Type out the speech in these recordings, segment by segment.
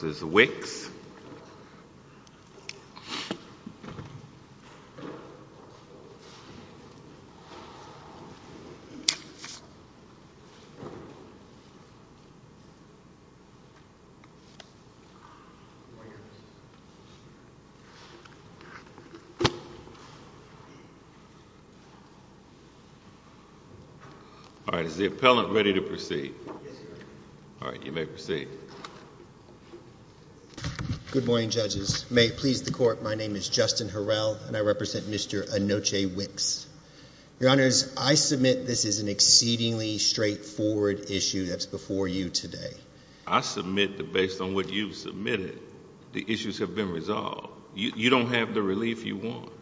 All right, is the Good morning, judges. May it please the court, my name is Justin Harrell, and I represent Mr. Enoche Wix. Your Honors, I submit this is an exceedingly straightforward issue that's before you today. I submit that based on what you've submitted, the issues have been resolved. You don't have the relief you want.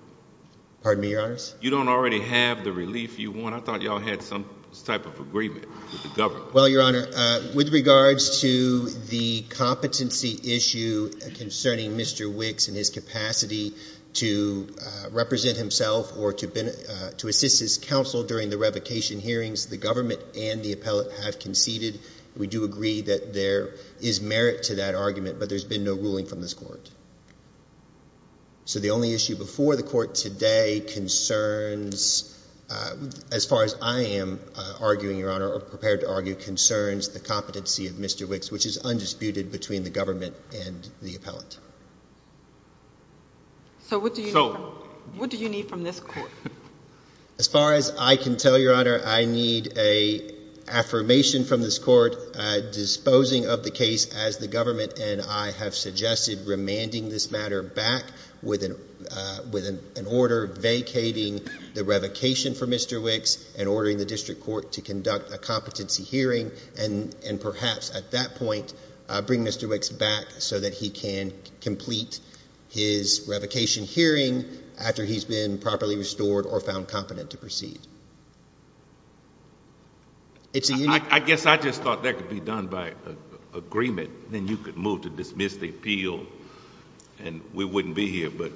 Pardon me, Your Honors? You don't already have the relief you want. I thought y'all had some type of agreement with the government. Well, Your Honor, with regards to the competency issue concerning Mr. Wix and his capacity to represent himself or to assist his counsel during the revocation hearings, the government and the appellate have conceded. We do agree that there is merit to that argument, but there's been no ruling from this court. So the only issue before the court today concerns, as far as I am arguing, Your Honor, or prepared to argue, concerns the competency of Mr. Wix, which is undisputed between the government and the appellate. So what do you need from this court? As far as I can tell, Your Honor, I need an affirmation from this court disposing of the case as the government and I have suggested remanding this matter back with an order vacating the revocation for Mr. Wix and ordering the district court to conduct a competency hearing and perhaps at that point bring Mr. Wix back so that he can complete his revocation hearing after he's been properly restored or found competent to proceed. I guess I just thought that could be done by agreement. Then you could move to dismiss the appeal and we wouldn't be here. But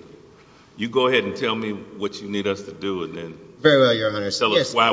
you go ahead and tell me what you need us to do. Very well, Your Honor. Tell us why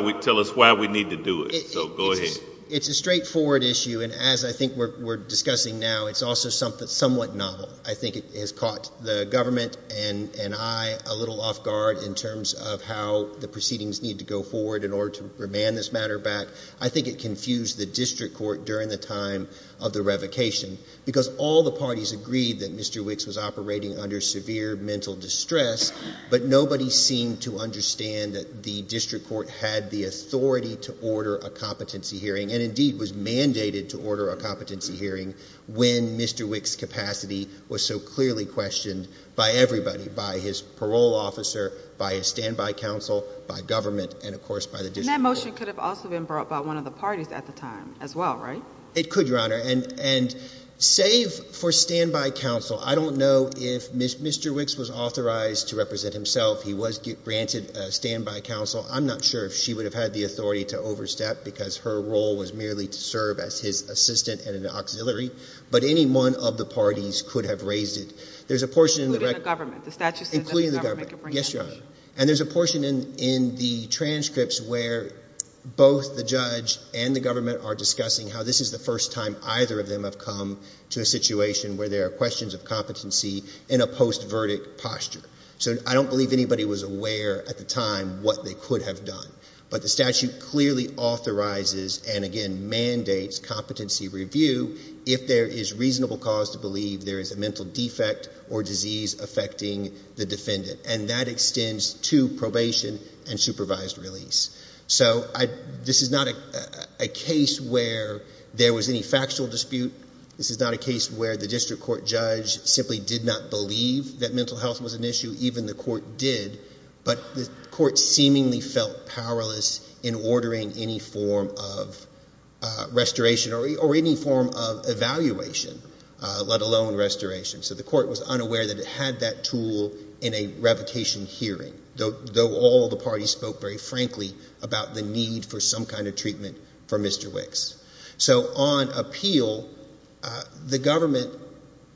we need to do it. So go ahead. It's a straightforward issue, and as I think we're discussing now, it's also somewhat novel. I think it has caught the government and I a little off guard in terms of how the proceedings need to go forward in order to remand this matter back. I think it confused the district court during the time of the revocation because all the parties agreed that Mr. Wix was operating under severe mental distress, but nobody seemed to understand that the district court had the authority to order a competency hearing and indeed was mandated to order a competency hearing when Mr. Wix's capacity was so clearly questioned by everybody, by his parole officer, by a standby counsel, by government, and of course by the district court. And that motion could have also been brought by one of the parties at the time as well, right? It could, Your Honor, and save for standby counsel, I don't know if Mr. Wix was authorized to represent himself. He was granted standby counsel. I'm not sure if she would have had the authority to overstep because her role was merely to serve as his assistant and an auxiliary, but any one of the parties could have raised it. Including the government. Including the government. Yes, Your Honor. And there's a portion in the transcripts where both the judge and the government are discussing how this is the first time either of them have come to a situation where there are questions of competency in a post-verdict posture. So I don't believe anybody was aware at the time what they could have done. But the statute clearly authorizes and again mandates competency review if there is reasonable cause to believe there is a mental defect or disease affecting the defendant. And that extends to probation and supervised release. So this is not a case where there was any factual dispute. This is not a case where the district court judge simply did not believe that mental health was an issue. Even the court did. But the court seemingly felt powerless in ordering any form of restoration or any form of evaluation, let alone restoration. So the court was unaware that it had that tool in a revocation hearing, though all the parties spoke very frankly about the need for some kind of treatment for Mr. Wicks. So on appeal, the government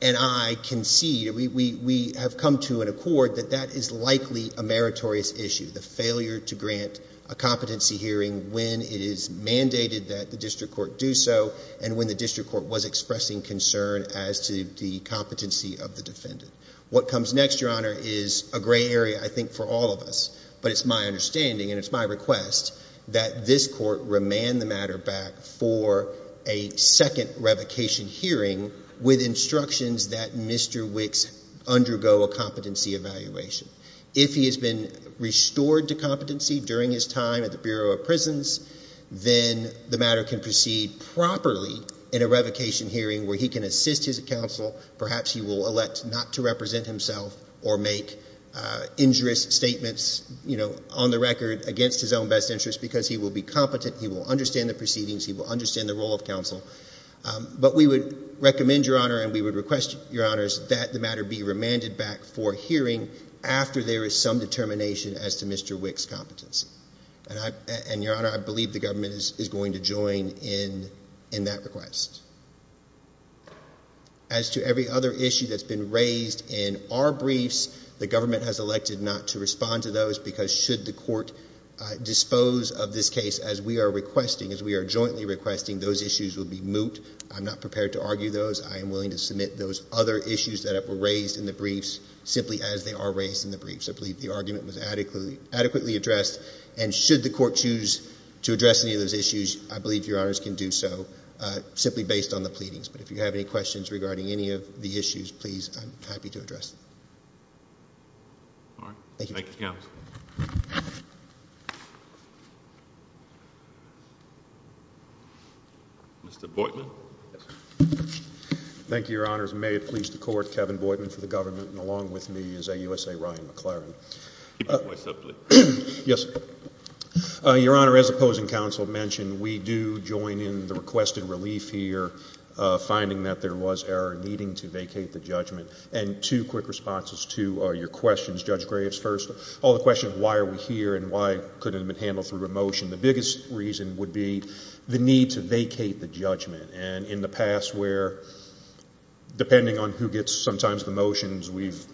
and I concede, we have come to an accord that that is likely a meritorious issue, the failure to grant a competency hearing when it is mandated that the district court do so and when the district court was expressing concern as to the competency of the defendant. What comes next, Your Honor, is a gray area, I think, for all of us. But it's my understanding and it's my request that this court remand the matter back for a second revocation hearing with instructions that Mr. Wicks undergo a competency evaluation. If he has been restored to competency during his time at the Bureau of Prisons, then the matter can proceed properly in a revocation hearing where he can assist his counsel. Perhaps he will elect not to represent himself or make injurious statements on the record against his own best interest because he will be competent. He will understand the proceedings. But we would recommend, Your Honor, and we would request, Your Honors, that the matter be remanded back for hearing after there is some determination as to Mr. Wicks' competency. And, Your Honor, I believe the government is going to join in that request. As to every other issue that's been raised in our briefs, the government has elected not to respond to those because should the court dispose of this case as we are requesting, as we are jointly requesting, those issues will be moot. I'm not prepared to argue those. I am willing to submit those other issues that were raised in the briefs simply as they are raised in the briefs. I believe the argument was adequately addressed. And should the court choose to address any of those issues, I believe Your Honors can do so simply based on the pleadings. But if you have any questions regarding any of the issues, please, I'm happy to address them. All right. Thank you. Thank you, Counsel. Mr. Boydman. Thank you, Your Honors. May it please the Court, Kevin Boydman for the government and along with me is AUSA Ryan McLaren. Keep your voice up, please. Yes, sir. Your Honor, as the opposing counsel mentioned, we do join in the requested relief here, finding that there was error needing to vacate the judgment. And two quick responses to your questions. Judge Graves first. On the question of why are we here and why couldn't it have been handled through a motion, the biggest reason would be the need to vacate the judgment. And in the past where, depending on who gets sometimes the motions, we've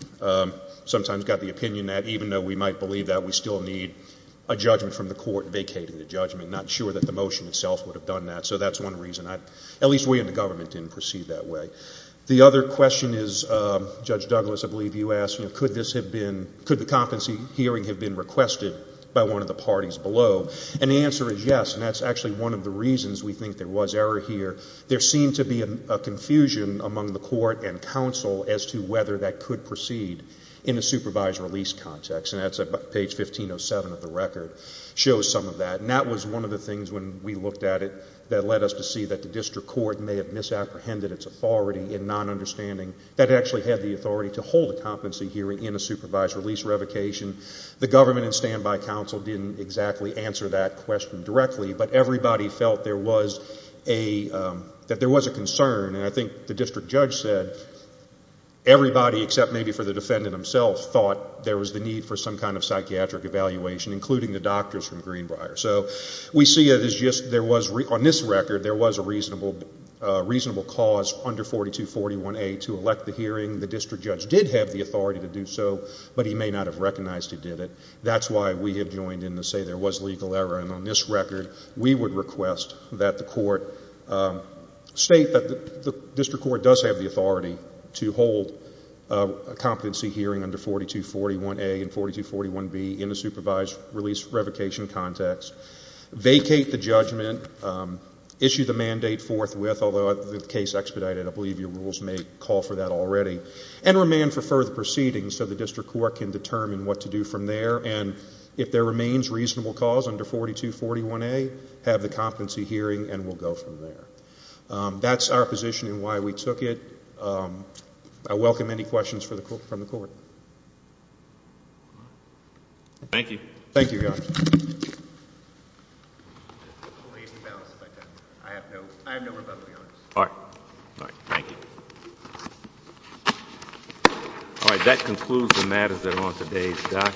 sometimes got the opinion that even though we might believe that, we still need a judgment from the court vacating the judgment, not sure that the motion itself would have done that. So that's one reason. At least we in the government didn't perceive that way. The other question is, Judge Douglas, I believe you asked, you know, could this have been, could the competency hearing have been requested by one of the parties below? And the answer is yes. And that's actually one of the reasons we think there was error here. There seemed to be a confusion among the court and counsel as to whether that could proceed in a supervised release context. And that's page 1507 of the record shows some of that. And that was one of the things when we looked at it that led us to see that the district court may have misapprehended its authority in not understanding that it actually had the authority to hold a competency hearing in a supervised release revocation. The government and standby counsel didn't exactly answer that question directly, but everybody felt there was a, that there was a concern. And I think the district judge said everybody, except maybe for the defendant himself, thought there was the need for some kind of psychiatric evaluation, including the doctors from Greenbrier. So we see it as just there was, on this record, there was a reasonable cause under 4241A to elect the hearing. The district judge did have the authority to do so, but he may not have recognized he did it. That's why we have joined in to say there was legal error. And on this record, we would request that the court state that the district court does have the authority to hold a competency hearing under 4241A and 4241B in a supervised release revocation context, vacate the judgment, issue the mandate forthwith, although the case expedited, I believe your rules may call for that already, and remand for further proceedings so the district court can determine what to do from there. And if there remains reasonable cause under 4241A, have the competency hearing and we'll go from there. That's our position and why we took it. I welcome any questions from the court. Thank you. Thank you, Your Honor. I have no rebuttal, Your Honor. All right. Thank you. All right.